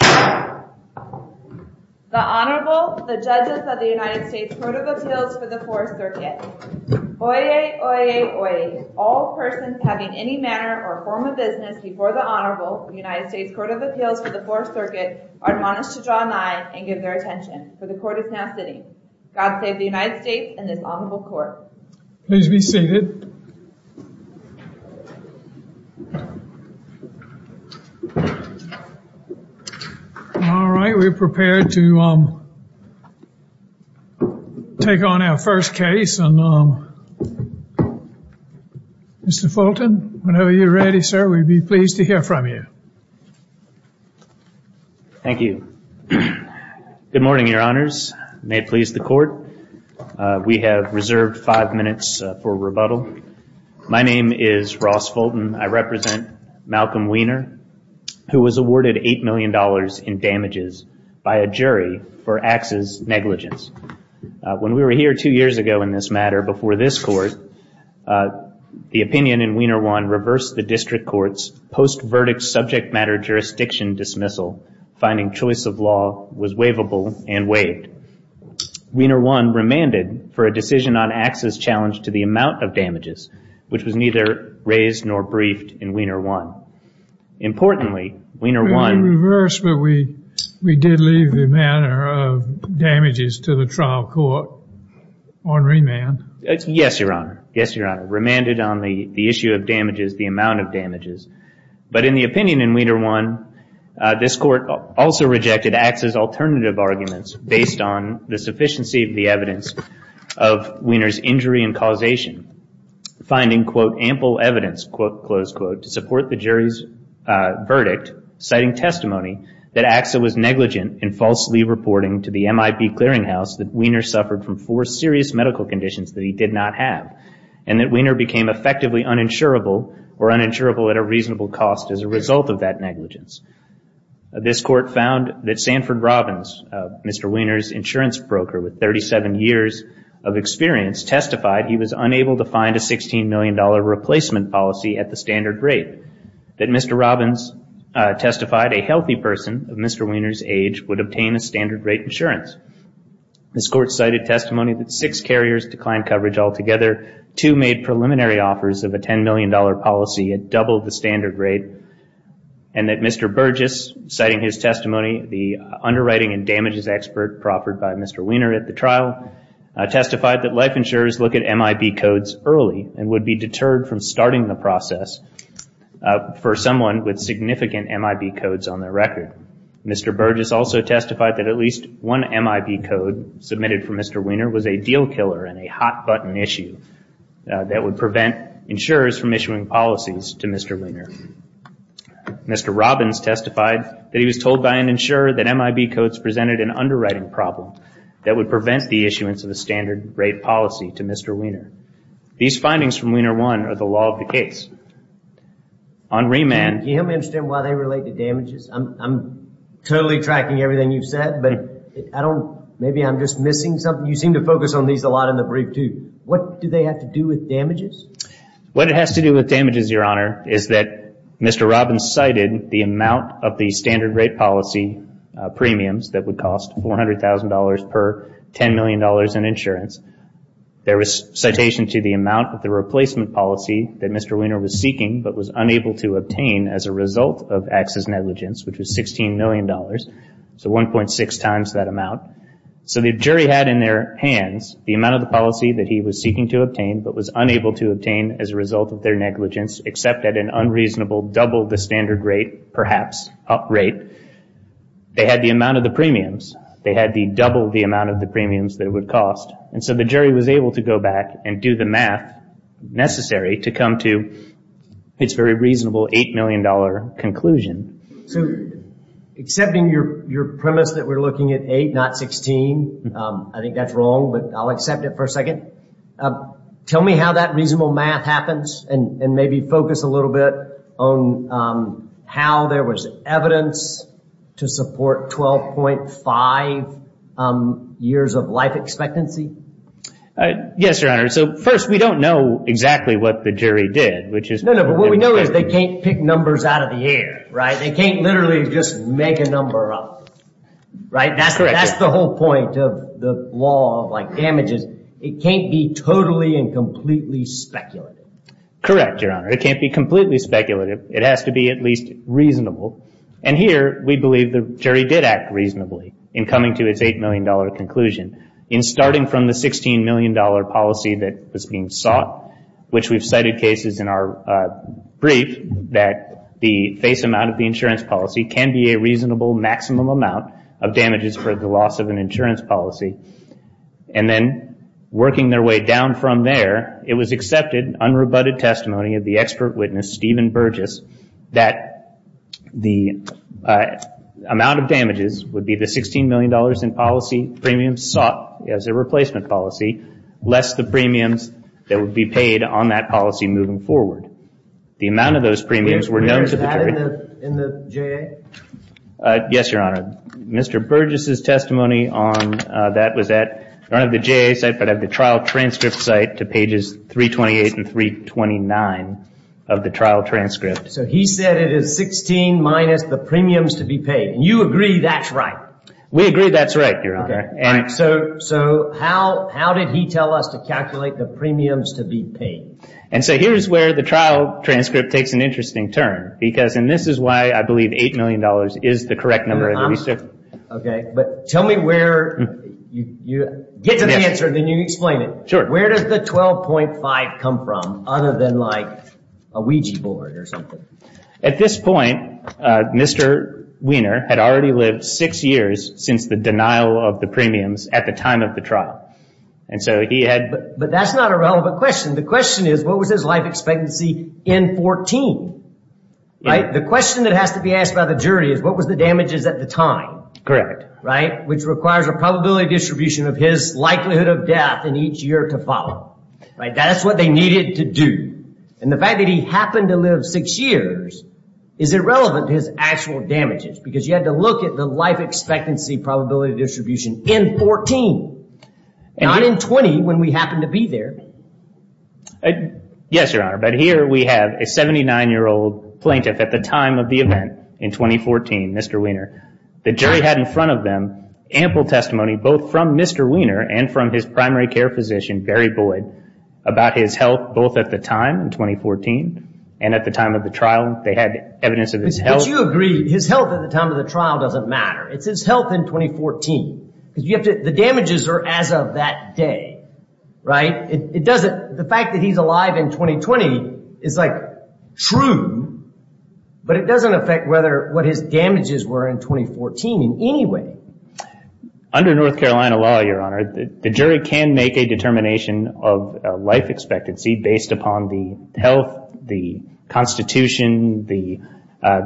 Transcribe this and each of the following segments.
The Honorable, the Judges of the United States Court of Appeals for the 4th Circuit. Oyez, oyez, oyez. All persons having any manner or form of business before the Honorable, the United States Court of Appeals for the 4th Circuit, are admonished to draw an eye and give their attention. For the Court is now sitting. God save the United States and this Honorable Court. Please be seated. All right, we're prepared to take on our first case. Mr. Fulton, whenever you're ready, sir, we'd be pleased to hear from you. Thank you. Good morning, Your Honors. May it please the Court. We have reserved five minutes for rebuttal. My name is Ross Fulton. I represent Malcolm Wiener, who was awarded $8 million in damages by a jury for AXA's negligence. When we were here two years ago in this matter, before this Court, the opinion in Wiener 1 reversed the District Court's post-verdict subject matter jurisdiction dismissal, finding choice of law was waivable and waived. Wiener 1 remanded for a decision on AXA's challenge to the amount of damages, which was neither raised nor briefed in Wiener 1. Importantly, Wiener 1- We reversed, but we did leave the matter of damages to the trial court on remand. Yes, Your Honor. Yes, Your Honor. Remanded on the issue of damages, the amount of damages. But in the opinion in Wiener 1, this Court also rejected AXA's alternative arguments based on the sufficiency of the evidence of Wiener's injury and causation, finding, quote, ample evidence, quote, close quote, to support the jury's verdict, citing testimony that AXA was negligent in falsely reporting to the MIP Clearinghouse that Wiener suffered from four serious medical conditions that he did not have and that Wiener became effectively uninsurable or uninsurable at a reasonable cost as a result of that negligence. This Court found that Sanford Robbins, Mr. Wiener's insurance broker with 37 years of experience, testified he was unable to find a $16 million replacement policy at the standard rate, that Mr. Robbins testified a healthy person of Mr. Wiener's age would obtain a standard rate insurance. This Court cited testimony that six carriers declined coverage altogether, two made preliminary offers of a $10 million policy at double the standard rate, and that Mr. Burgess, citing his testimony, the underwriting and damages expert proffered by Mr. Wiener at the trial, testified that life insurers look at MIP codes early and would be deterred from starting the process for someone with significant MIP codes on their record. Mr. Burgess also testified that at least one MIP code submitted from Mr. Wiener was a deal killer and a hot-button issue that would prevent insurers from issuing policies to Mr. Wiener. Mr. Robbins testified that he was told by an insurer that MIP codes presented an underwriting problem that would prevent the issuance of a standard rate policy to Mr. Wiener. These findings from Wiener 1 are the law of the case. On remand... Can you help me understand why they relate to damages? I'm totally tracking everything you've said, but maybe I'm just missing something. You seem to focus on these a lot in the brief, too. What do they have to do with damages? What it has to do with damages, Your Honor, is that Mr. Robbins cited the amount of the standard rate policy premiums that would cost $400,000 per $10 million in insurance. There was citation to the amount of the replacement policy that Mr. Wiener was seeking but was unable to obtain as a result of access negligence, which was $16 million, so 1.6 times that amount. So the jury had in their hands the amount of the policy that he was seeking to obtain but was unable to obtain as a result of their negligence, except at an unreasonable double the standard rate, perhaps, up rate. They had the amount of the premiums. They had the double the amount of the premiums that it would cost. And so the jury was able to go back and do the math necessary to come to its very reasonable $8 million conclusion. So accepting your premise that we're looking at 8, not 16, I think that's wrong, but I'll accept it for a second. Tell me how that reasonable math happens and maybe focus a little bit on how there was evidence to support 12.5 years of life expectancy. Yes, Your Honor. So first, we don't know exactly what the jury did. No, no, but what we know is they can't pick numbers out of the air. They can't literally just make a number up. That's the whole point of the law of damages. It can't be totally and completely speculative. Correct, Your Honor. It can't be completely speculative. It has to be at least reasonable. And here we believe the jury did act reasonably in coming to its $8 million conclusion. In starting from the $16 million policy that was being sought, which we've cited cases in our brief that the face amount of the insurance policy can be a reasonable maximum amount of damages for the loss of an insurance policy. And then working their way down from there, it was accepted, unrebutted testimony of the expert witness, Stephen Burgess, that the amount of damages would be the $16 million in policy premiums sought as a replacement policy, less the premiums that would be paid on that policy moving forward. The amount of those premiums were known to the jury. Were you aware of that in the J.A.? Yes, Your Honor. Mr. Burgess' testimony on that was at, not at the J.A. site, but at the trial transcript site to pages 328 and 329 of the trial transcript. So he said it is 16 minus the premiums to be paid. And you agree that's right? We agree that's right, Your Honor. So how did he tell us to calculate the premiums to be paid? And so here's where the trial transcript takes an interesting turn because, and this is why I believe $8 million is the correct number. Okay, but tell me where you, get to the answer and then you explain it. Sure. Where does the 12.5 come from other than like a Ouija board or something? At this point, Mr. Wiener had already lived six years since the denial of the premiums at the time of the trial. But that's not a relevant question. The question is, what was his life expectancy in 14? The question that has to be asked by the jury is, what was the damages at the time? Correct. Which requires a probability distribution of his likelihood of death in each year to follow. That's what they needed to do. And the fact that he happened to live six years is irrelevant to his actual damages because you had to look at the life expectancy probability distribution in 14, not in 20 when we happened to be there. Yes, Your Honor. But here we have a 79-year-old plaintiff at the time of the event in 2014, Mr. Wiener. The jury had in front of them ample testimony both from Mr. Wiener and from his primary care physician, Barry Boyd, about his health both at the time in 2014 and at the time of the trial. They had evidence of his health. But you agree his health at the time of the trial doesn't matter. It's his health in 2014. The damages are as of that day, right? The fact that he's alive in 2020 is, like, true, but it doesn't affect what his damages were in 2014 in any way. Under North Carolina law, Your Honor, the jury can make a determination of life expectancy based upon the health, the constitution, the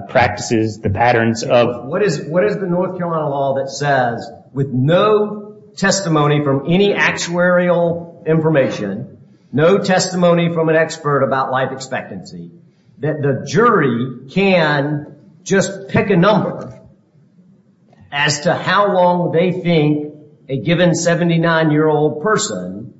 practices, the patterns of. What is the North Carolina law that says with no testimony from any actuarial information, no testimony from an expert about life expectancy, that the jury can just pick a number as to how long they think a given 79-year-old person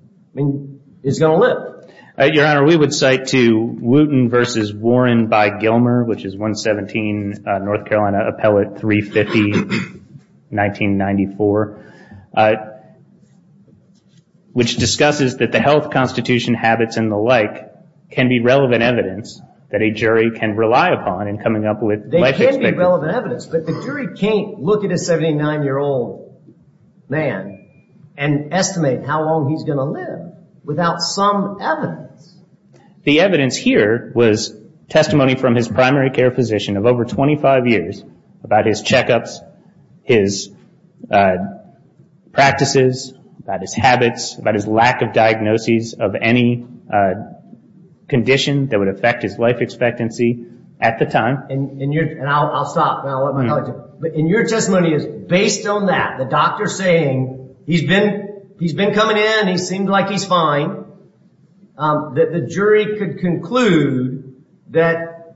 is going to live? Your Honor, we would cite to Wooten v. Warren by Gilmer, which is 117 North Carolina Appellate 350, 1994, which discusses that the health, constitution, habits, and the like, can be relevant evidence that a jury can rely upon in coming up with life expectancy. They can be relevant evidence, but the jury can't look at a 79-year-old man and estimate how long he's going to live without some evidence. The evidence here was testimony from his primary care physician of over 25 years about his checkups, his practices, about his habits, about his lack of diagnoses of any condition that would affect his life expectancy at the time. And I'll stop. And your testimony is based on that, the doctor saying he's been coming in, he seems like he's fine, that the jury could conclude that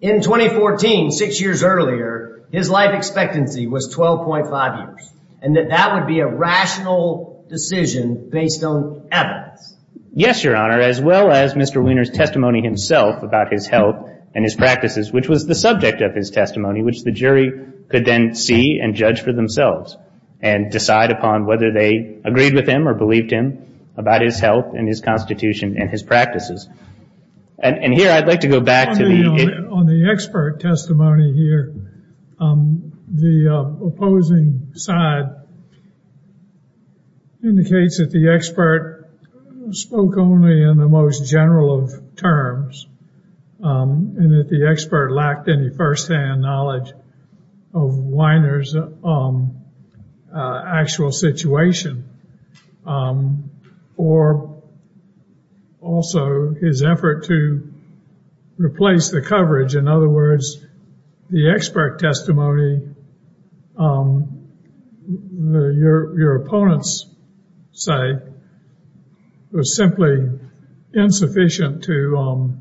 in 2014, six years earlier, his life expectancy was 12.5 years, and that that would be a rational decision based on evidence. Yes, Your Honor, as well as Mr. Wiener's testimony himself about his health and his practices, which was the subject of his testimony, which the jury could then see and judge for themselves and decide upon whether they agreed with him or believed him about his health and his constitution and his practices. And here I'd like to go back to the... On the expert testimony here, the opposing side indicates that the expert spoke only in the most general of terms and that the expert lacked any firsthand knowledge of Wiener's actual situation or also his effort to replace the coverage. In other words, the expert testimony, your opponent's side, was simply insufficient to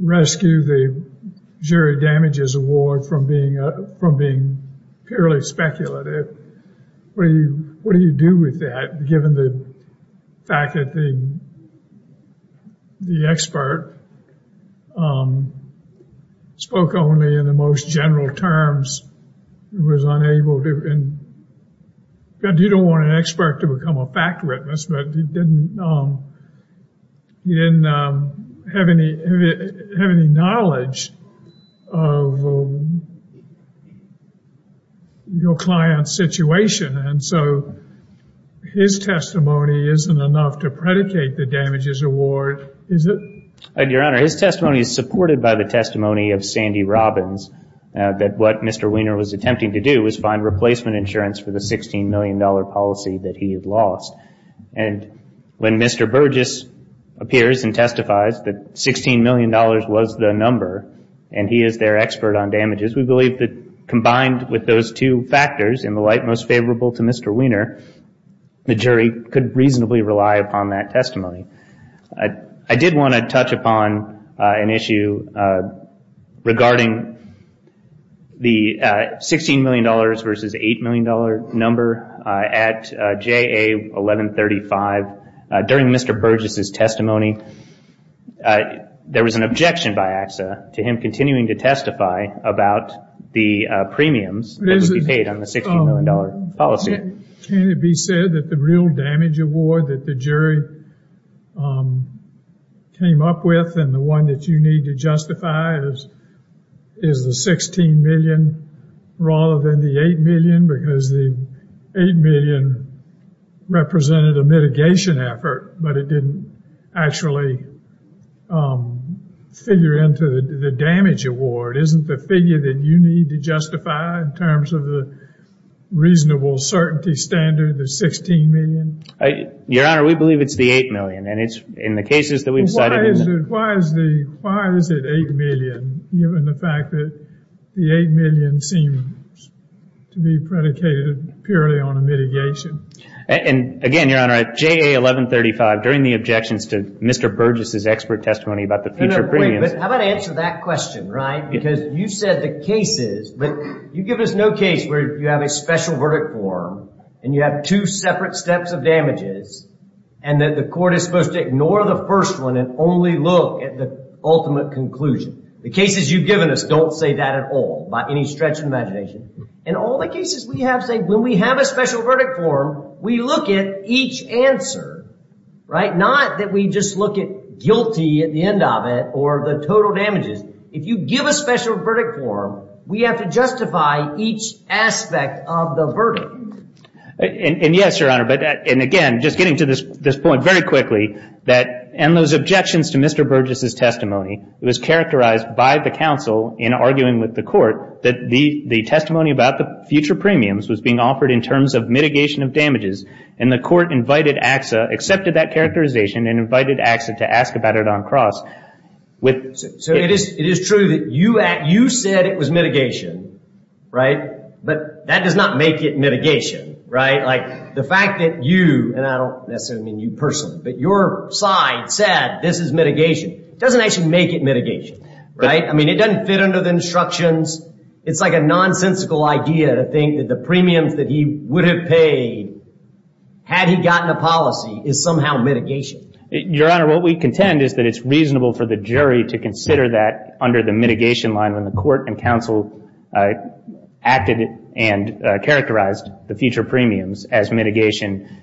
rescue the jury damages award from being purely speculative. What do you do with that, given the fact that the expert spoke only in the most general terms, was unable to... You don't want an expert to become a fact witness, but he didn't have any knowledge of your client's situation. And so his testimony isn't enough to predicate the damages award, is it? Your Honor, his testimony is supported by the testimony of Sandy Robbins, that what Mr. Wiener was attempting to do was find replacement insurance for the $16 million policy that he had lost. And when Mr. Burgess appears and testifies that $16 million was the number and he is their expert on damages, we believe that combined with those two factors in the light most favorable to Mr. Wiener, the jury could reasonably rely upon that testimony. I did want to touch upon an issue regarding the $16 million versus $8 million number at JA 1135. During Mr. Burgess' testimony, there was an objection by AXA to him continuing to testify about the premiums that would be paid on the $16 million policy. Can it be said that the real damage award that the jury came up with and the one that you need to justify is the $16 million rather than the $8 million because the $8 million represented a mitigation effort, but it didn't actually figure into the damage award? Isn't the figure that you need to justify in terms of the reasonable certainty standard, the $16 million? Your Honor, we believe it's the $8 million and it's in the cases that we've cited. Why is it $8 million given the fact that the $8 million seems to be predicated purely on a mitigation? And again, Your Honor, at JA 1135, during the objections to Mr. Burgess' expert testimony about the future premiums... How about I answer that question, right? Because you said the cases... You've given us no case where you have a special verdict form and you have two separate steps of damages and that the court is supposed to ignore the first one and only look at the ultimate conclusion. The cases you've given us don't say that at all by any stretch of imagination. In all the cases we have, say, when we have a special verdict form, we look at each answer, right? Not that we just look at guilty at the end of it or the total damages. If you give a special verdict form, we have to justify each aspect of the verdict. And yes, Your Honor, and again, just getting to this point very quickly, in those objections to Mr. Burgess' testimony, it was characterized by the counsel in arguing with the court that the testimony about the future premiums was being offered in terms of mitigation of damages and the court invited AXA, accepted that characterization, and invited AXA to ask about it on cross with... So it is true that you said it was mitigation, right? But that does not make it mitigation, right? Like, the fact that you, and I don't necessarily mean you personally, but your side said this is mitigation doesn't actually make it mitigation, right? I mean, it doesn't fit under the instructions. It's like a nonsensical idea to think that the premiums that he would have paid had he gotten a policy is somehow mitigation. Your Honor, what we contend is that it's reasonable for the jury to consider that under the mitigation line when the court and counsel acted and characterized the future premiums as mitigation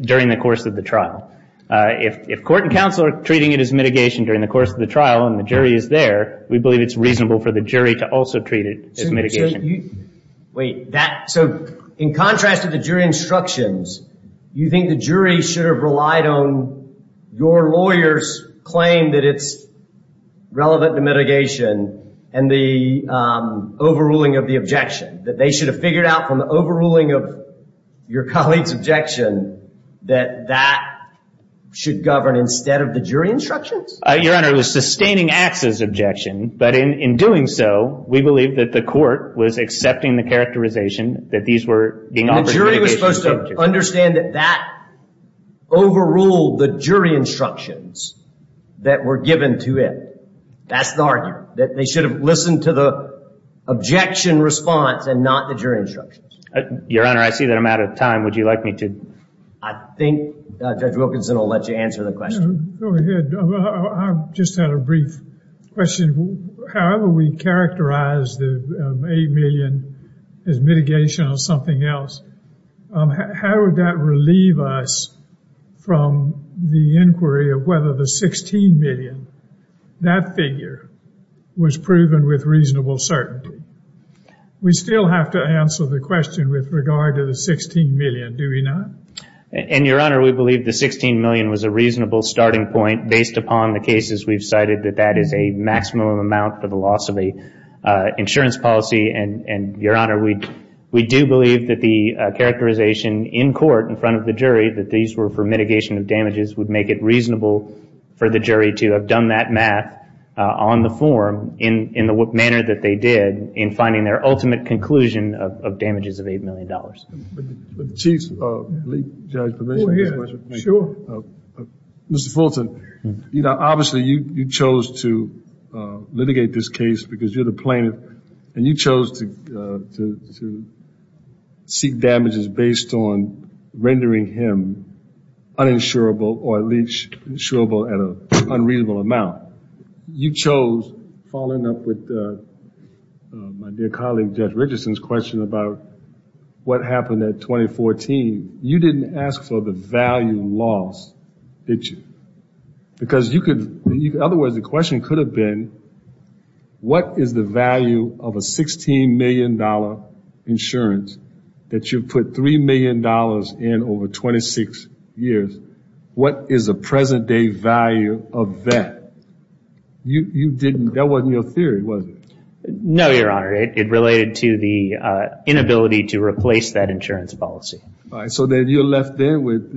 during the course of the trial. If court and counsel are treating it as mitigation during the course of the trial and the jury is there, we believe it's reasonable for the jury to also treat it as mitigation. Wait, so in contrast to the jury instructions, you think the jury should have relied on your lawyer's claim that it's relevant to mitigation and the overruling of the objection, that they should have figured out from the overruling of your colleague's objection that that should govern instead of the jury instructions? Your Honor, it was sustaining Axe's objection, but in doing so we believe that the court was accepting the characterization that these were being offered. The jury was supposed to understand that that overruled the jury instructions that were given to it. That's the argument, that they should have listened to the objection response and not the jury instructions. Your Honor, I see that I'm out of time. Would you like me to? I think Judge Wilkinson will let you answer the question. Go ahead. I just had a brief question. However we characterize the $8 million as mitigation or something else, how would that relieve us from the inquiry of whether the $16 million, that figure was proven with reasonable certainty? We still have to answer the question with regard to the $16 million, do we not? Your Honor, we believe the $16 million was a reasonable starting point based upon the cases we've cited that that is a maximum amount for the loss of an insurance policy. Your Honor, we do believe that the characterization in court in front of the jury that these were for mitigation of damages would make it reasonable for the jury to have done that math on the form in the manner that they did in finding their ultimate conclusion of damages of $8 million. Chiefs, Judge Provencio has a question. Sure. Mr. Fulton, you know, obviously you chose to litigate this case because you're the plaintiff and you chose to seek damages based on rendering him uninsurable or at least insurable at an unreasonable amount. You chose, following up with my dear colleague Judge Richardson's question about what happened at 2014, you didn't ask for the value loss, did you? Because you could, in other words, the question could have been, what is the value of a $16 million insurance that you put $3 million in over 26 years, what is the present day value of that? That wasn't your theory, was it? No, Your Honor. It related to the inability to replace that insurance policy. All right. So then you're left there with,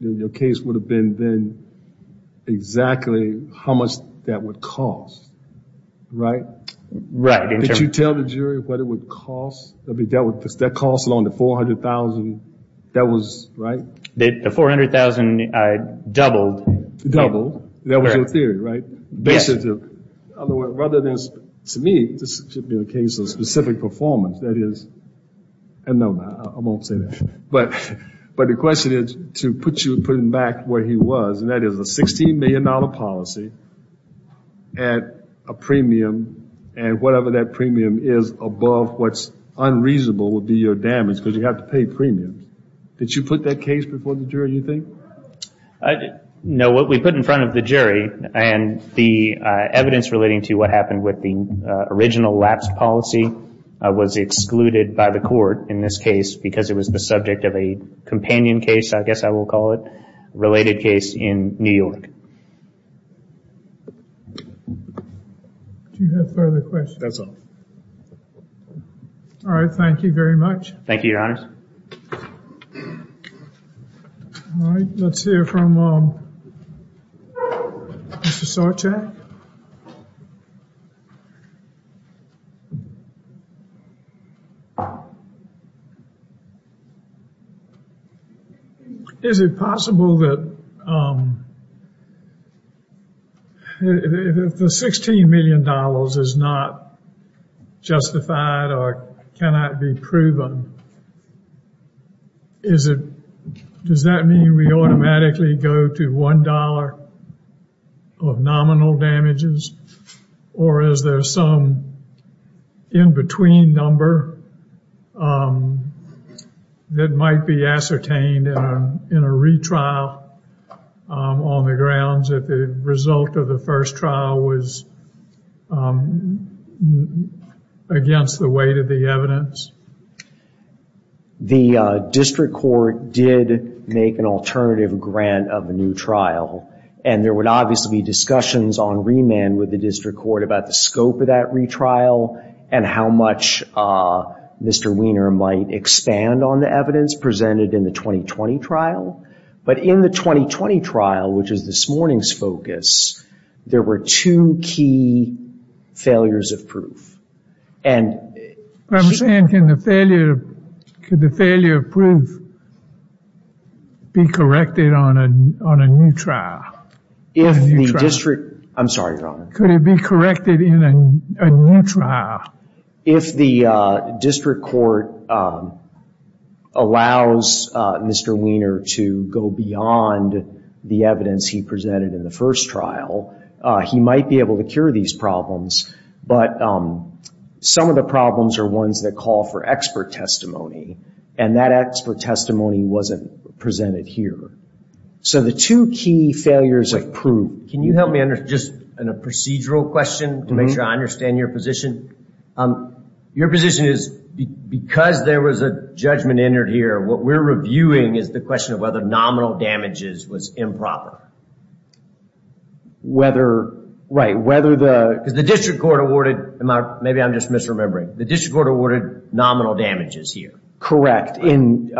your case would have been then exactly how much that would cost, right? Right. Did you tell the jury what it would cost? That would cost along the $400,000, that was, right? The $400,000 doubled. That was your theory, right? Yes. Rather than, to me, this should be the case of specific performance, that is, and no, I won't say that, but the question is to put him back where he was, and that is a $16 million policy at a premium, and whatever that premium is above what's unreasonable would be your damage because you have to pay premiums. Did you put that case before the jury, you think? No. What we put in front of the jury and the evidence relating to what happened with the original lapse policy was excluded by the court in this case because it was the subject of a companion case, I guess I will call it, related case in New York. Do you have further questions? That's all. All right. Thank you very much. Thank you, Your Honors. All right. Let's hear from Mr. Sarchak. Mr. Sarchak? Is it possible that if the $16 million is not justified or cannot be proven, does that mean we automatically go to $1 of nominal damages, or is there some in-between number that might be ascertained in a retrial on the grounds that the result of the first trial was against the weight of the evidence? The district court did make an alternative grant of a new trial, and there would obviously be discussions on remand with the district court about the scope of that retrial and how much Mr. Wiener might expand on the evidence presented in the 2020 trial. But in the 2020 trial, which is this morning's focus, there were two key failures of proof. I'm saying can the failure of proof be corrected on a new trial? I'm sorry, Your Honor. Could it be corrected in a new trial? If the district court allows Mr. Wiener to go beyond the evidence he presented in the first trial, he might be able to cure these problems, but some of the problems are ones that call for expert testimony, and that expert testimony wasn't presented here. So the two key failures of proof. Can you help me on just a procedural question to make sure I understand your position? Your position is because there was a judgment entered here, what we're reviewing is the question of whether nominal damages was improper. Right. Because the district court awarded, maybe I'm just misremembering, the district court awarded nominal damages here. Correct, in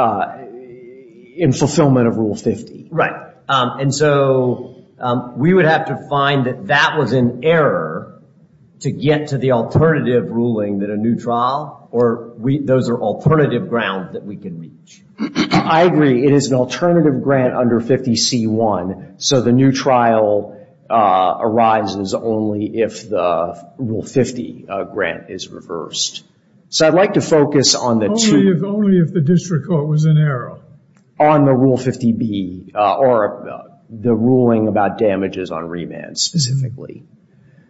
fulfillment of Rule 50. Right. And so we would have to find that that was in error to get to the alternative ruling that a new trial, or those are alternative grounds that we can reach. I agree. It is an alternative grant under 50C1, so the new trial arises only if the Rule 50 grant is reversed. So I'd like to focus on the two. Only if the district court was in error. On the Rule 50B, or the ruling about damages on remand specifically.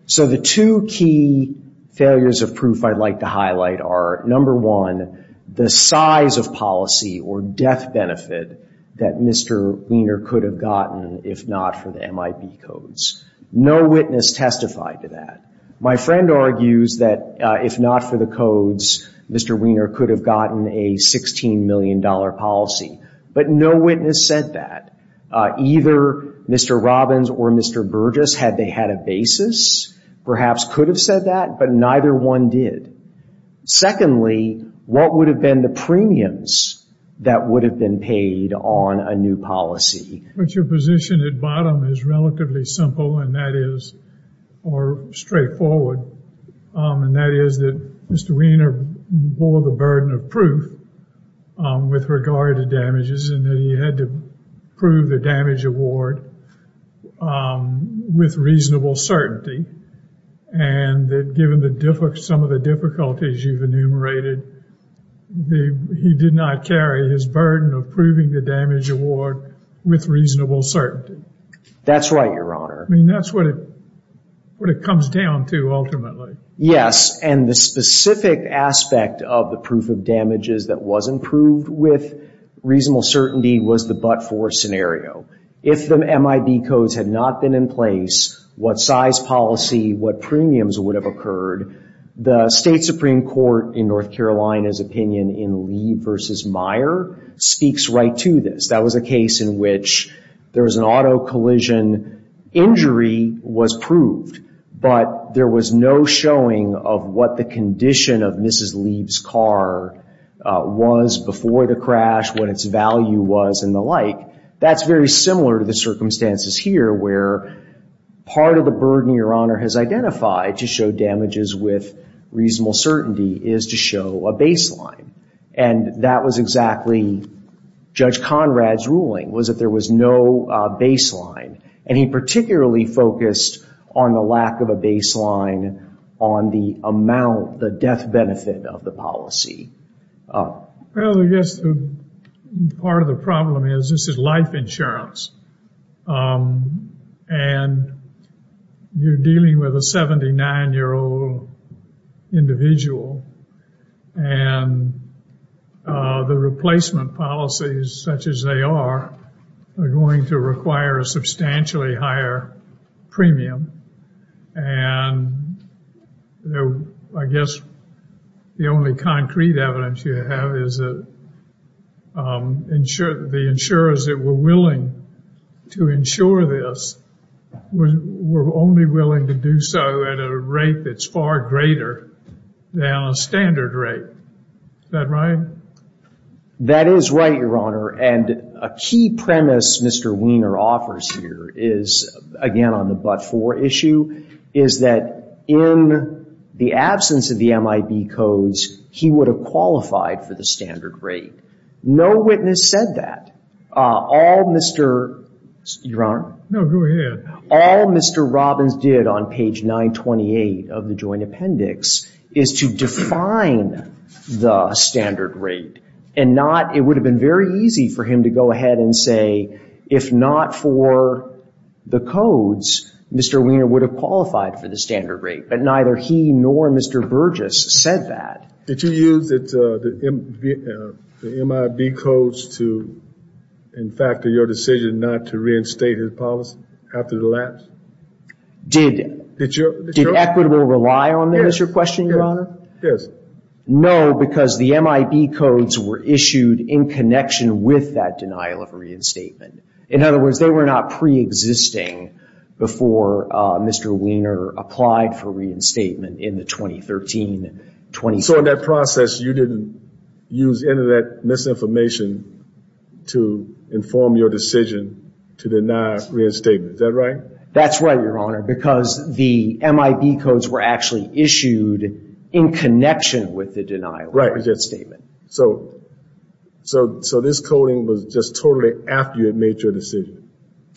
So the two key failures of proof I'd like to highlight are, number one, the size of policy or death benefit that Mr. Wiener could have gotten if not for the MIP codes. No witness testified to that. My friend argues that if not for the codes, Mr. Wiener could have gotten a $16 million policy. But no witness said that. Either Mr. Robbins or Mr. Burgess, had they had a basis, perhaps could have said that, but neither one did. Secondly, what would have been the premiums that would have been paid on a new policy? But your position at bottom is relatively simple, and that is, or straightforward, and that is that Mr. Wiener bore the burden of proof with regard to damages, and that he had to prove the damage award with reasonable certainty, and that given some of the difficulties you've enumerated, he did not carry his burden of proving the damage award with reasonable certainty. That's right, Your Honor. I mean, that's what it comes down to ultimately. Yes, and the specific aspect of the proof of damages that wasn't proved with reasonable certainty was the but-for scenario. If the MIP codes had not been in place, what size policy, what premiums would have occurred, the State Supreme Court in North Carolina's opinion in Lee v. Meyer speaks right to this. That was a case in which there was an auto collision, injury was proved, but there was no showing of what the condition of Mrs. Lee's car was before the crash, what its value was, and the like. That's very similar to the circumstances here, where part of the burden Your Honor has identified to show damages with reasonable certainty is to show a baseline, and that was exactly Judge Conrad's ruling, was that there was no baseline, and he particularly focused on the lack of a baseline on the amount, the death benefit of the policy. Well, I guess part of the problem is this is life insurance, and you're dealing with a 79-year-old individual, and the replacement policies such as they are, are going to require a substantially higher premium, and I guess the only concrete evidence you have is that the insurers that were willing to insure this were only willing to do so at a rate that's far greater than a standard rate. Is that right? That is right, Your Honor, and a key premise Mr. Wiener offers here is, again, on the but-for issue, is that in the absence of the MIB codes, he would have qualified for the standard rate. No witness said that. All Mr. Your Honor? No, go ahead. All Mr. Robbins did on page 928 of the joint appendix is to define the standard rate, and it would have been very easy for him to go ahead and say, if not for the codes, Mr. Wiener would have qualified for the standard rate, but neither he nor Mr. Burgess said that. Did you use the MIB codes to, in fact, in your decision not to reinstate his policy after the lapse? Did Equitable rely on them is your question, Your Honor? Yes. No, because the MIB codes were issued in connection with that denial of reinstatement. In other words, they were not preexisting before Mr. Wiener applied for reinstatement in the 2013-2014. So in that process you didn't use any of that misinformation to inform your decision to deny reinstatement. Is that right? That's right, Your Honor, because the MIB codes were actually issued in connection with the denial of reinstatement. So this coding was just totally after you had made your decision.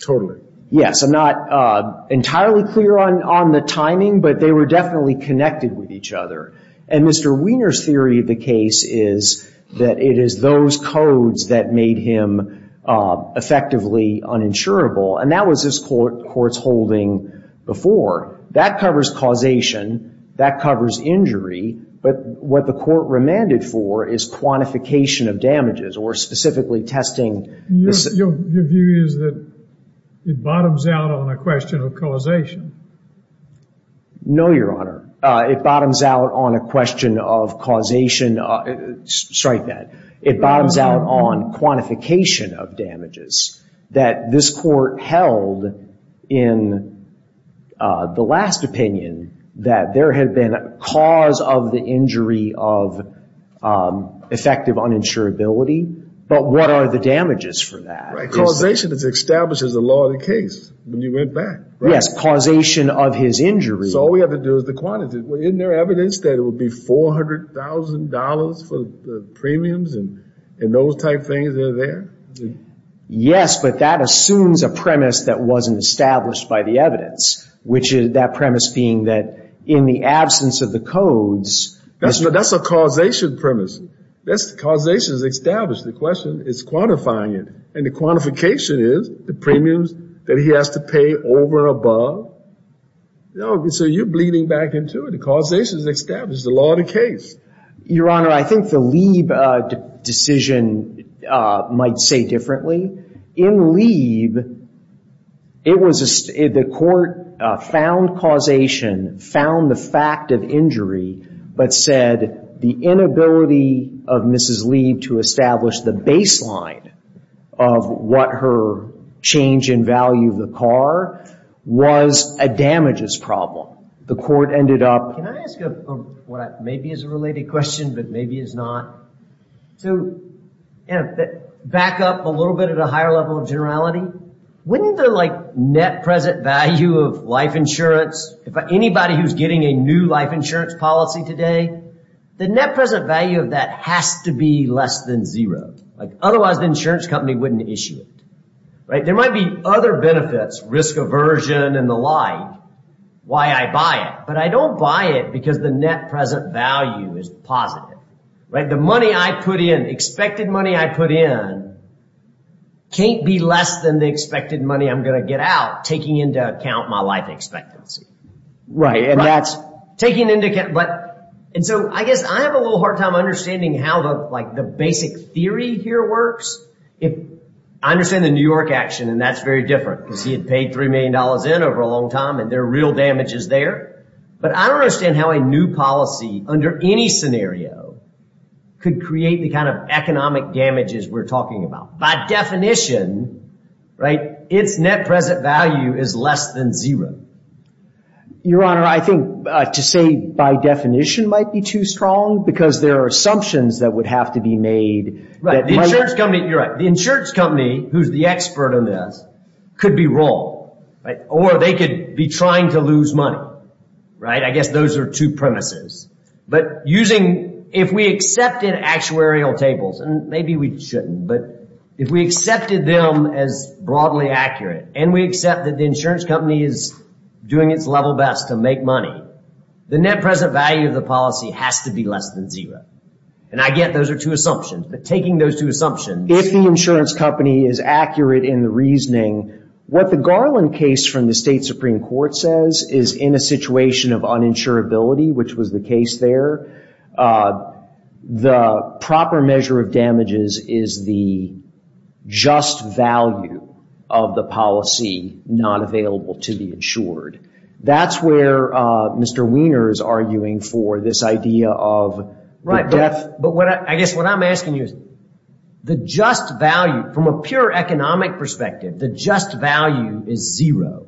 Totally. Yes. I'm not entirely clear on the timing, but they were definitely connected with each other. And Mr. Wiener's theory of the case is that it is those codes that made him effectively uninsurable, and that was this Court's holding before. That covers causation. That covers injury. But what the Court remanded for is quantification of damages or specifically testing. Your view is that it bottoms out on a question of causation. No, Your Honor. It bottoms out on a question of causation. Strike that. It bottoms out on quantification of damages. That this Court held in the last opinion that there had been a cause of the injury of effective uninsurability, but what are the damages for that? Causation establishes the law of the case when you went back. Yes, causation of his injury. So all we have to do is the quantity. Isn't there evidence that it would be $400,000 for the premiums and those type things that are there? Yes, but that assumes a premise that wasn't established by the evidence, which is that premise being that in the absence of the codes. That's a causation premise. Causation is established. The question is quantifying it. And the quantification is the premiums that he has to pay over and above. So you're bleeding back into it. Causation is established, the law of the case. Your Honor, I think the Lieb decision might say differently. In Lieb, the Court found causation, found the fact of injury, but said the inability of Mrs. Lieb to establish the baseline of what her change in value of the car was a damages problem. Can I ask a related question, but maybe it's not? To back up a little bit at a higher level of generality, wouldn't the net present value of life insurance, anybody who's getting a new life insurance policy today, the net present value of that has to be less than zero. Otherwise, the insurance company wouldn't issue it. There might be other benefits, risk aversion and the like. Why I buy it. But I don't buy it because the net present value is positive. The money I put in, the expected money I put in, can't be less than the expected money I'm going to get out, taking into account my life expectancy. Right, and that's... Taking into account... And so I guess I have a little hard time understanding how the basic theory here works. I understand the New York action, and that's very different. Because he had paid $3 million in over a long time, and there are real damages there. But I don't understand how a new policy under any scenario could create the kind of economic damages we're talking about. By definition, its net present value is less than zero. Your Honor, I think to say by definition might be too strong because there are assumptions that would have to be made. Right, the insurance company, you're right. They could be wrong, or they could be trying to lose money. Right, I guess those are two premises. But using... If we accepted actuarial tables, and maybe we shouldn't, but if we accepted them as broadly accurate, and we accept that the insurance company is doing its level best to make money, the net present value of the policy has to be less than zero. And I get those are two assumptions, but taking those two assumptions... If the insurance company is accurate in the reasoning, what the Garland case from the State Supreme Court says is in a situation of uninsurability, which was the case there, the proper measure of damages is the just value of the policy not available to be insured. That's where Mr. Wiener is arguing for this idea of the death... But I guess what I'm asking you is the just value, from a pure economic perspective, the just value is zero.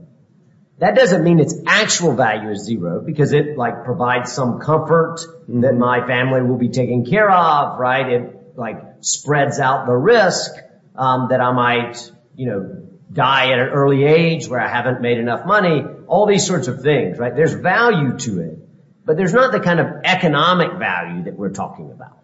That doesn't mean its actual value is zero, because it provides some comfort that my family will be taken care of. It spreads out the risk that I might die at an early age where I haven't made enough money, all these sorts of things. There's value to it, but there's not the kind of economic value that we're talking about.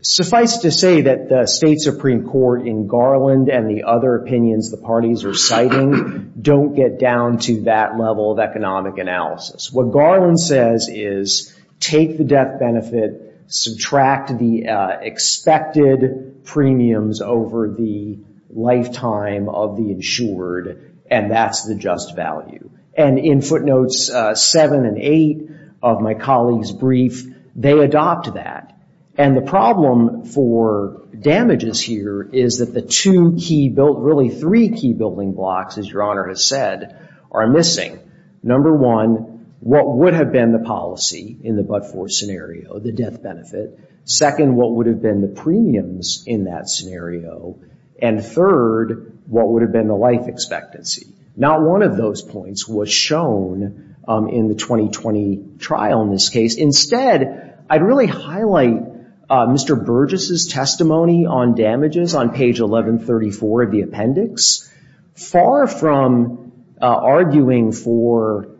Suffice to say that the State Supreme Court in Garland and the other opinions the parties are citing don't get down to that level of economic analysis. What Garland says is take the death benefit, subtract the expected premiums over the lifetime of the insured, and that's the just value. And in footnotes 7 and 8 of my colleague's brief, they adopt that. And the problem for damages here is that the two key, really three key building blocks, as Your Honor has said, are missing. Number one, what would have been the policy in the But-For scenario, the death benefit? Second, what would have been the premiums in that scenario? And third, what would have been the life expectancy? Not one of those points was shown in the 2020 trial in this case. Instead, I'd really highlight Mr. Burgess' testimony on damages on page 1134 of the appendix. Far from arguing for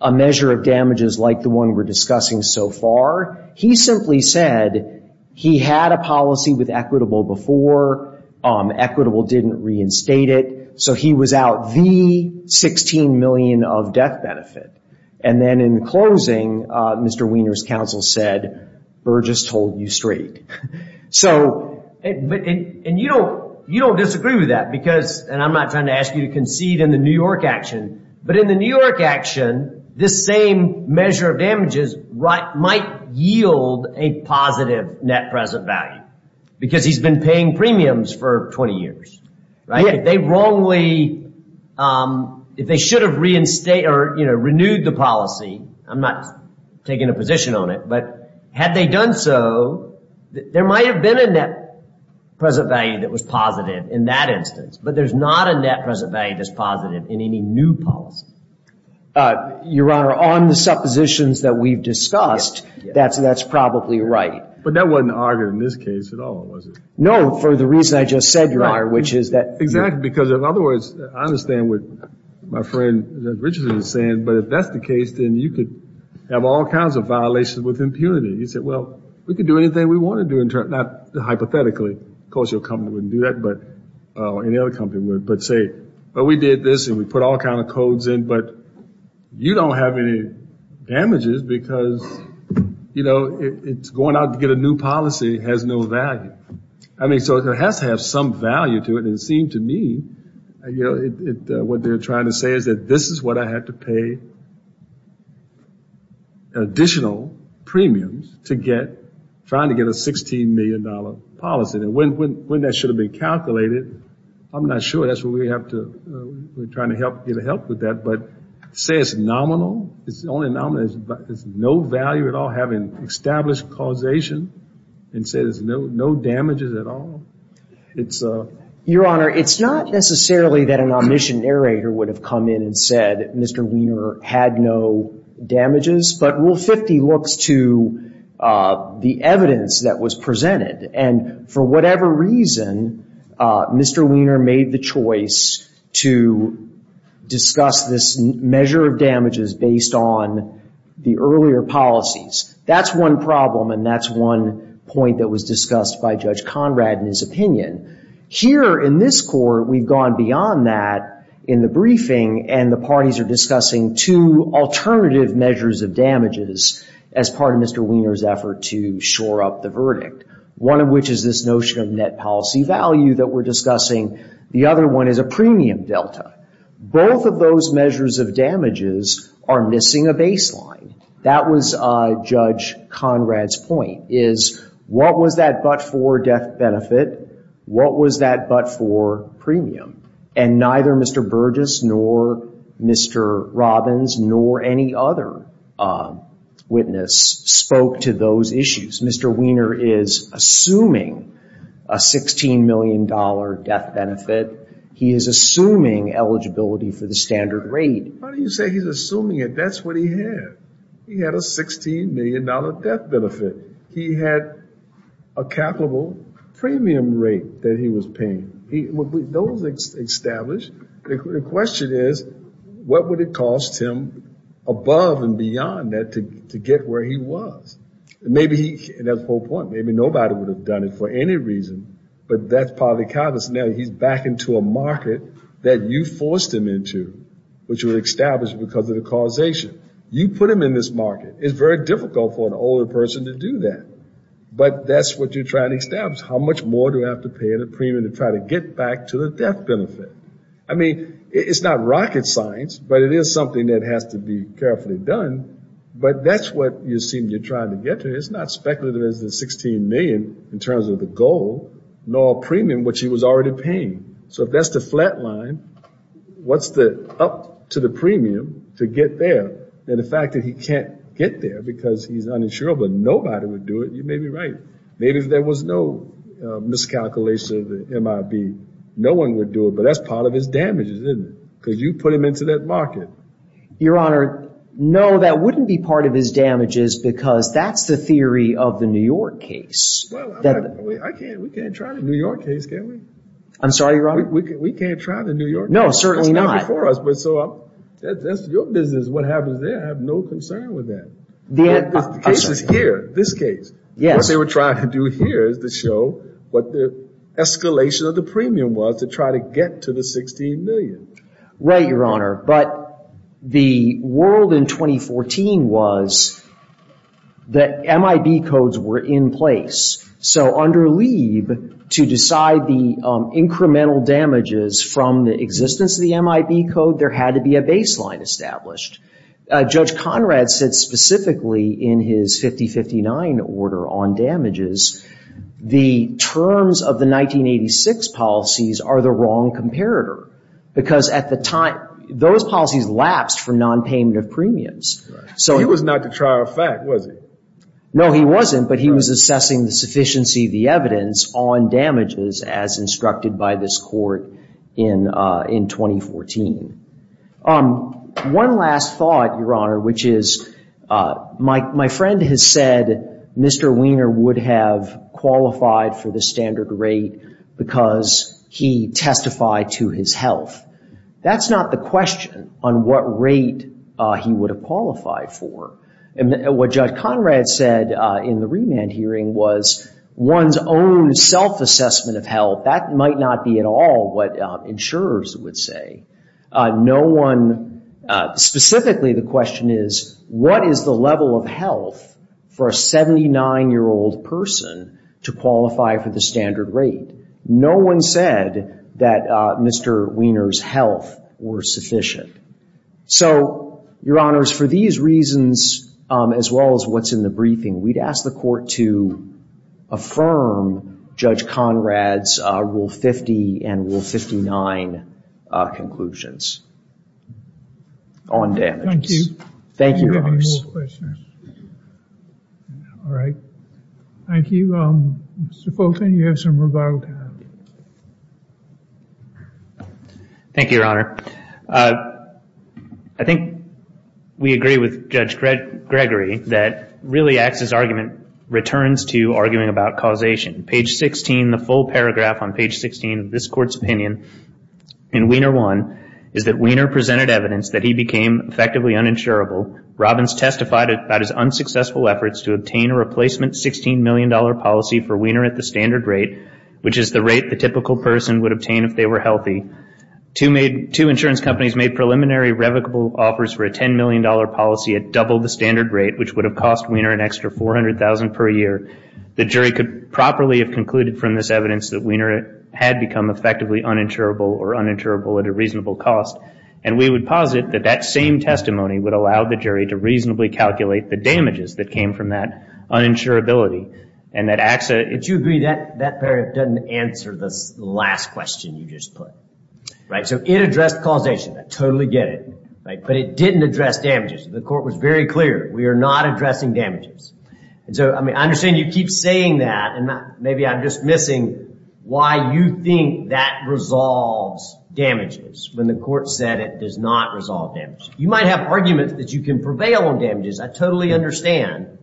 a measure of damages like the one we're discussing so far, he simply said he had a policy with Equitable before. Equitable didn't reinstate it, so he was out the $16 million of death benefit. And then in closing, Mr. Weiner's counsel said, Burgess told you straight. And you don't disagree with that, and I'm not trying to ask you to concede in the New York action, but in the New York action, this same measure of damages might yield a positive net present value because he's been paying premiums for 20 years. If they wrongly, if they should have renewed the policy, I'm not taking a position on it, but had they done so, there might have been a net present value that was positive in that instance, but there's not a net present value that's positive in any new policy. Your Honor, on the suppositions that we've discussed, that's probably right. But that wasn't argued in this case at all, was it? No, for the reason I just said, Your Honor, which is that. Exactly, because in other words, I understand what my friend Richardson is saying, but if that's the case, then you could have all kinds of violations with impunity. He said, well, we could do anything we want to do, not hypothetically. Of course, your company wouldn't do that, or any other company would, but say, well, we did this, and we put all kinds of codes in, but you don't have any damages because, you know, it's going out to get a new policy that has no value. I mean, so it has to have some value to it, and it seemed to me, you know, what they're trying to say is that this is what I had to pay additional premiums to get, trying to get a $16 million policy, and when that should have been calculated, I'm not sure. That's what we have to, we're trying to get help with that, but say it's nominal, it's only nominal, and there's no value at all having established causation, and say there's no damages at all. It's a... Your Honor, it's not necessarily that an omniscient narrator would have come in and said Mr. Wiener had no damages, but Rule 50 looks to the evidence that was presented, and for whatever reason Mr. Wiener made the choice to discuss this measure of the earlier policies. That's one problem, and that's one point that was discussed by Judge Conrad in his opinion. Here in this court, we've gone beyond that in the briefing, and the parties are discussing two alternative measures of damages as part of Mr. Wiener's effort to shore up the verdict, one of which is this notion of net policy value that we're discussing. The other one is a premium delta. Both of those measures of damages are missing a baseline. That was Judge Conrad's point, is what was that but-for death benefit? What was that but-for premium? And neither Mr. Burgess nor Mr. Robbins nor any other witness spoke to those issues. Mr. Wiener is assuming a $16 million death benefit. He is assuming eligibility for the standard rate. How do you say he's assuming it? That's what he had. He had a $16 million death benefit. He had a capital premium rate that he was paying. With those established, the question is, what would it cost him above and beyond that to get where he was? And that's the whole point. Maybe nobody would have done it for any reason, but that's part of the calculus. Now he's back into a market that you forced him into, which was established because of the causation. You put him in this market. It's very difficult for an older person to do that, but that's what you're trying to establish. How much more do I have to pay the premium to try to get back to the death benefit? I mean, it's not rocket science, but it is something that has to be carefully done, but that's what you're trying to get to. It's not speculative as the $16 million in terms of the goal, nor premium, which he was already paying. So if that's the flat line, what's up to the premium to get there? And the fact that he can't get there because he's uninsurable, nobody would do it. You may be right. Maybe there was no miscalculation of the MIB. No one would do it, but that's part of his damages, isn't it? Because you put him into that market. Your Honor, no, that wouldn't be part of his damages because that's the theory of the New York case. We can't try the New York case, can we? I'm sorry, Your Honor? We can't try the New York case. No, certainly not. It's not before us. That's your business. What happens there, I have no concern with that. The case is here, this case. What they were trying to do here is to show what the escalation of the premium was to try to get to the $16 million. Right, Your Honor. But the world in 2014 was that MIB codes were in place. So under Lieb, to decide the incremental damages from the existence of the MIB code, there had to be a baseline established. Judge Conrad said specifically in his 50-59 order on damages, the terms of the 1986 policies are the wrong comparator. Because at the time, those policies lapsed for non-payment of premiums. He was not to trial effect, was he? No, he wasn't. But he was assessing the sufficiency of the evidence on damages as instructed by this court in 2014. One last thought, Your Honor, which is my friend has said Mr. Wiener would have qualified for the standard rate because he testified to his health. That's not the question on what rate he would have qualified for. What Judge Conrad said in the remand hearing was one's own self-assessment of health. That might not be at all what insurers would say. No one, specifically the question is what is the level of health for a 79-year-old person to qualify for the standard rate? No one said that Mr. Wiener's health were sufficient. So, Your Honors, for these reasons as well as what's in the briefing, we'd ask the Court to affirm Judge Conrad's Rule 50 and Rule 59 conclusions on damages. Thank you. Thank you, Your Honors. All right. Thank you. Mr. Fulton, you have some rebuttal time. Thank you, Your Honor. I think we agree with Judge Gregory that really Axe's argument returns to arguing about causation. Page 16, the full paragraph on page 16 of this Court's opinion in Wiener 1 is that Wiener presented evidence that he became effectively uninsurable. Robbins testified about his unsuccessful efforts to obtain a replacement $16 million policy for Wiener at the standard rate, which is the rate the typical person would obtain if they were healthy. Two insurance companies made preliminary revocable offers for a $10 million policy at double the standard rate, which would have cost Wiener an extra $400,000 per year. The jury could properly have concluded from this evidence that Wiener had become effectively uninsurable or uninsurable at a reasonable cost, and we would posit that that same testimony would allow the jury to reasonably calculate the damages that came from that uninsurability. Do you agree that that paragraph doesn't answer the last question you just put? It addressed causation. I totally get it, but it didn't address damages. The Court was very clear. We are not addressing damages. I understand you keep saying that, and maybe I'm just missing why you think that resolves damages when the Court said it does not resolve damages. You might have arguments that you can prevail on damages. I totally understand,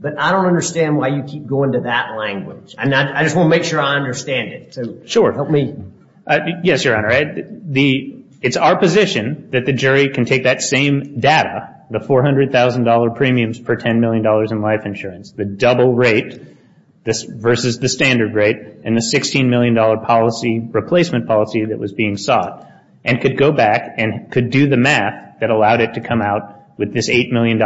but I don't understand why you keep going to that language. I just want to make sure I understand it. Sure. Help me. Yes, Your Honor. It's our position that the jury can take that same data, the $400,000 premiums per $10 million in life insurance, the double rate versus the standard rate, and the $16 million policy replacement policy that was being sought, and could go back and could do the math that allowed it to come out with this $8 million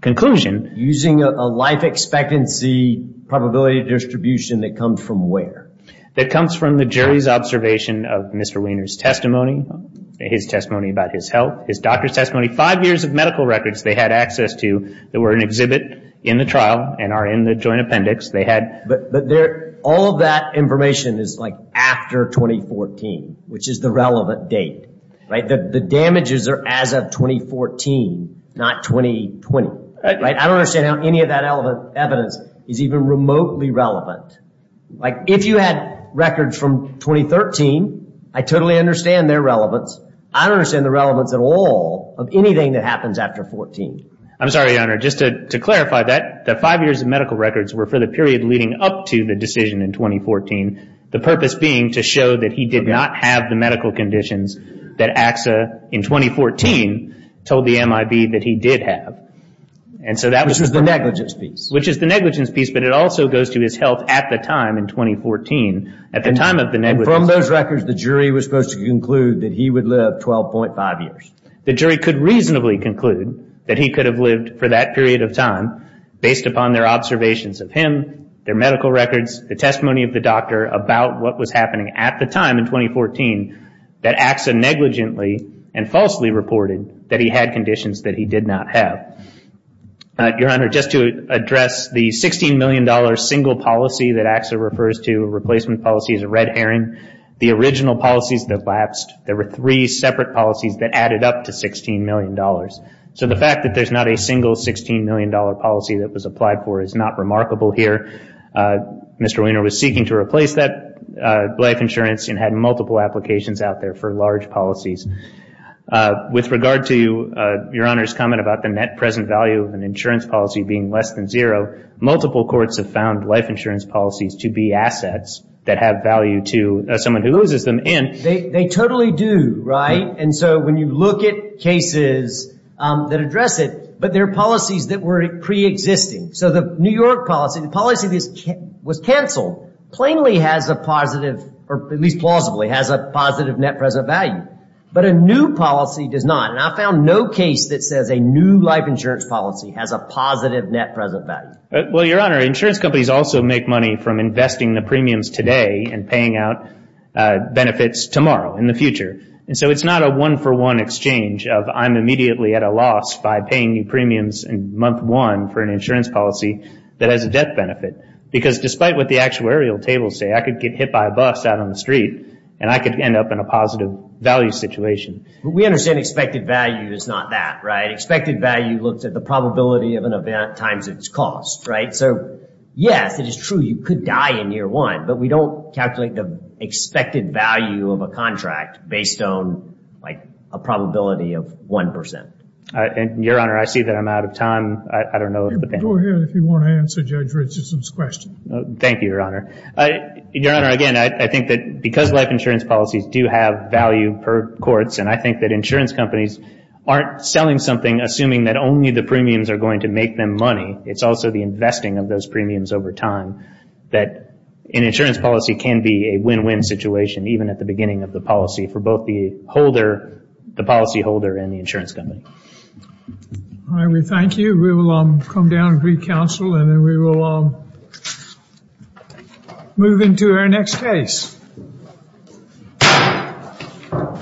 conclusion. Using a life expectancy probability distribution that comes from where? That comes from the jury's observation of Mr. Wiener's testimony, his testimony about his health, his doctor's testimony, five years of medical records they had access to that were an exhibit in the trial and are in the joint appendix. All of that information is after 2014, which is the relevant date. The damages are as of 2014, not 2020. I don't understand how any of that evidence is even remotely relevant. If you had records from 2013, I totally understand their relevance. I don't understand the relevance at all of anything that happens after 2014. I'm sorry, Your Honor. Just to clarify, the five years of medical records were for the period leading up to the decision in 2014, the purpose being to show that he did not have the medical conditions that AXA, in 2014, told the MIB that he did have. Which is the negligence piece. Which is the negligence piece, but it also goes to his health at the time in 2014. At the time of the negligence. From those records, the jury was supposed to conclude that he would live 12.5 years. The jury could reasonably conclude that he could have lived for that period of time, based upon their observations of him, their medical records, the testimony of the doctor about what was happening at the time in 2014, that AXA negligently and falsely reported that he had conditions that he did not have. Your Honor, just to address the $16 million single policy that AXA refers to, replacement policy is a red herring. The original policies have lapsed. There were three separate policies that added up to $16 million. So the fact that there's not a single $16 million policy that was applied for is not remarkable here. Mr. Weiner was seeking to replace that life insurance and had multiple applications out there for large policies. With regard to Your Honor's comment about the net present value of an insurance policy being less than zero, multiple courts have found life insurance policies to be assets that have value to someone who loses them. They totally do, right? And so when you look at cases that address it, but there are policies that were preexisting. So the New York policy, the policy that was cancelled, plainly has a positive, or at least plausibly has a positive net present value. But a new policy does not. And I found no case that says a new life insurance policy has a positive net present value. Well, Your Honor, insurance companies also make money from investing the premiums today and paying out benefits tomorrow, in the future. And so it's not a one-for-one exchange of I'm immediately at a loss by paying new premiums in month one for an insurance policy that has a debt benefit. Because despite what the actuarial tables say, I could get hit by a bus out on the street and I could end up in a positive value situation. We understand expected value is not that, right? Expected value looks at the probability of an event times its cost, right? So, yes, it is true you could die in year one, but we don't calculate the expected value of a contract based on a probability of 1%. Your Honor, I see that I'm out of time. I don't know if the panel... Go ahead if you want to answer Judge Richardson's question. Thank you, Your Honor. Your Honor, again, I think that because life insurance policies do have value per courts, and I think that insurance companies aren't selling something assuming that only the premiums are going to make them money. It's also the investing of those premiums over time that an insurance policy can be a win-win situation, even at the beginning of the policy for both the policy holder and the insurance company. All right. We thank you. We will come down and recounsel, and then we will move into our next case.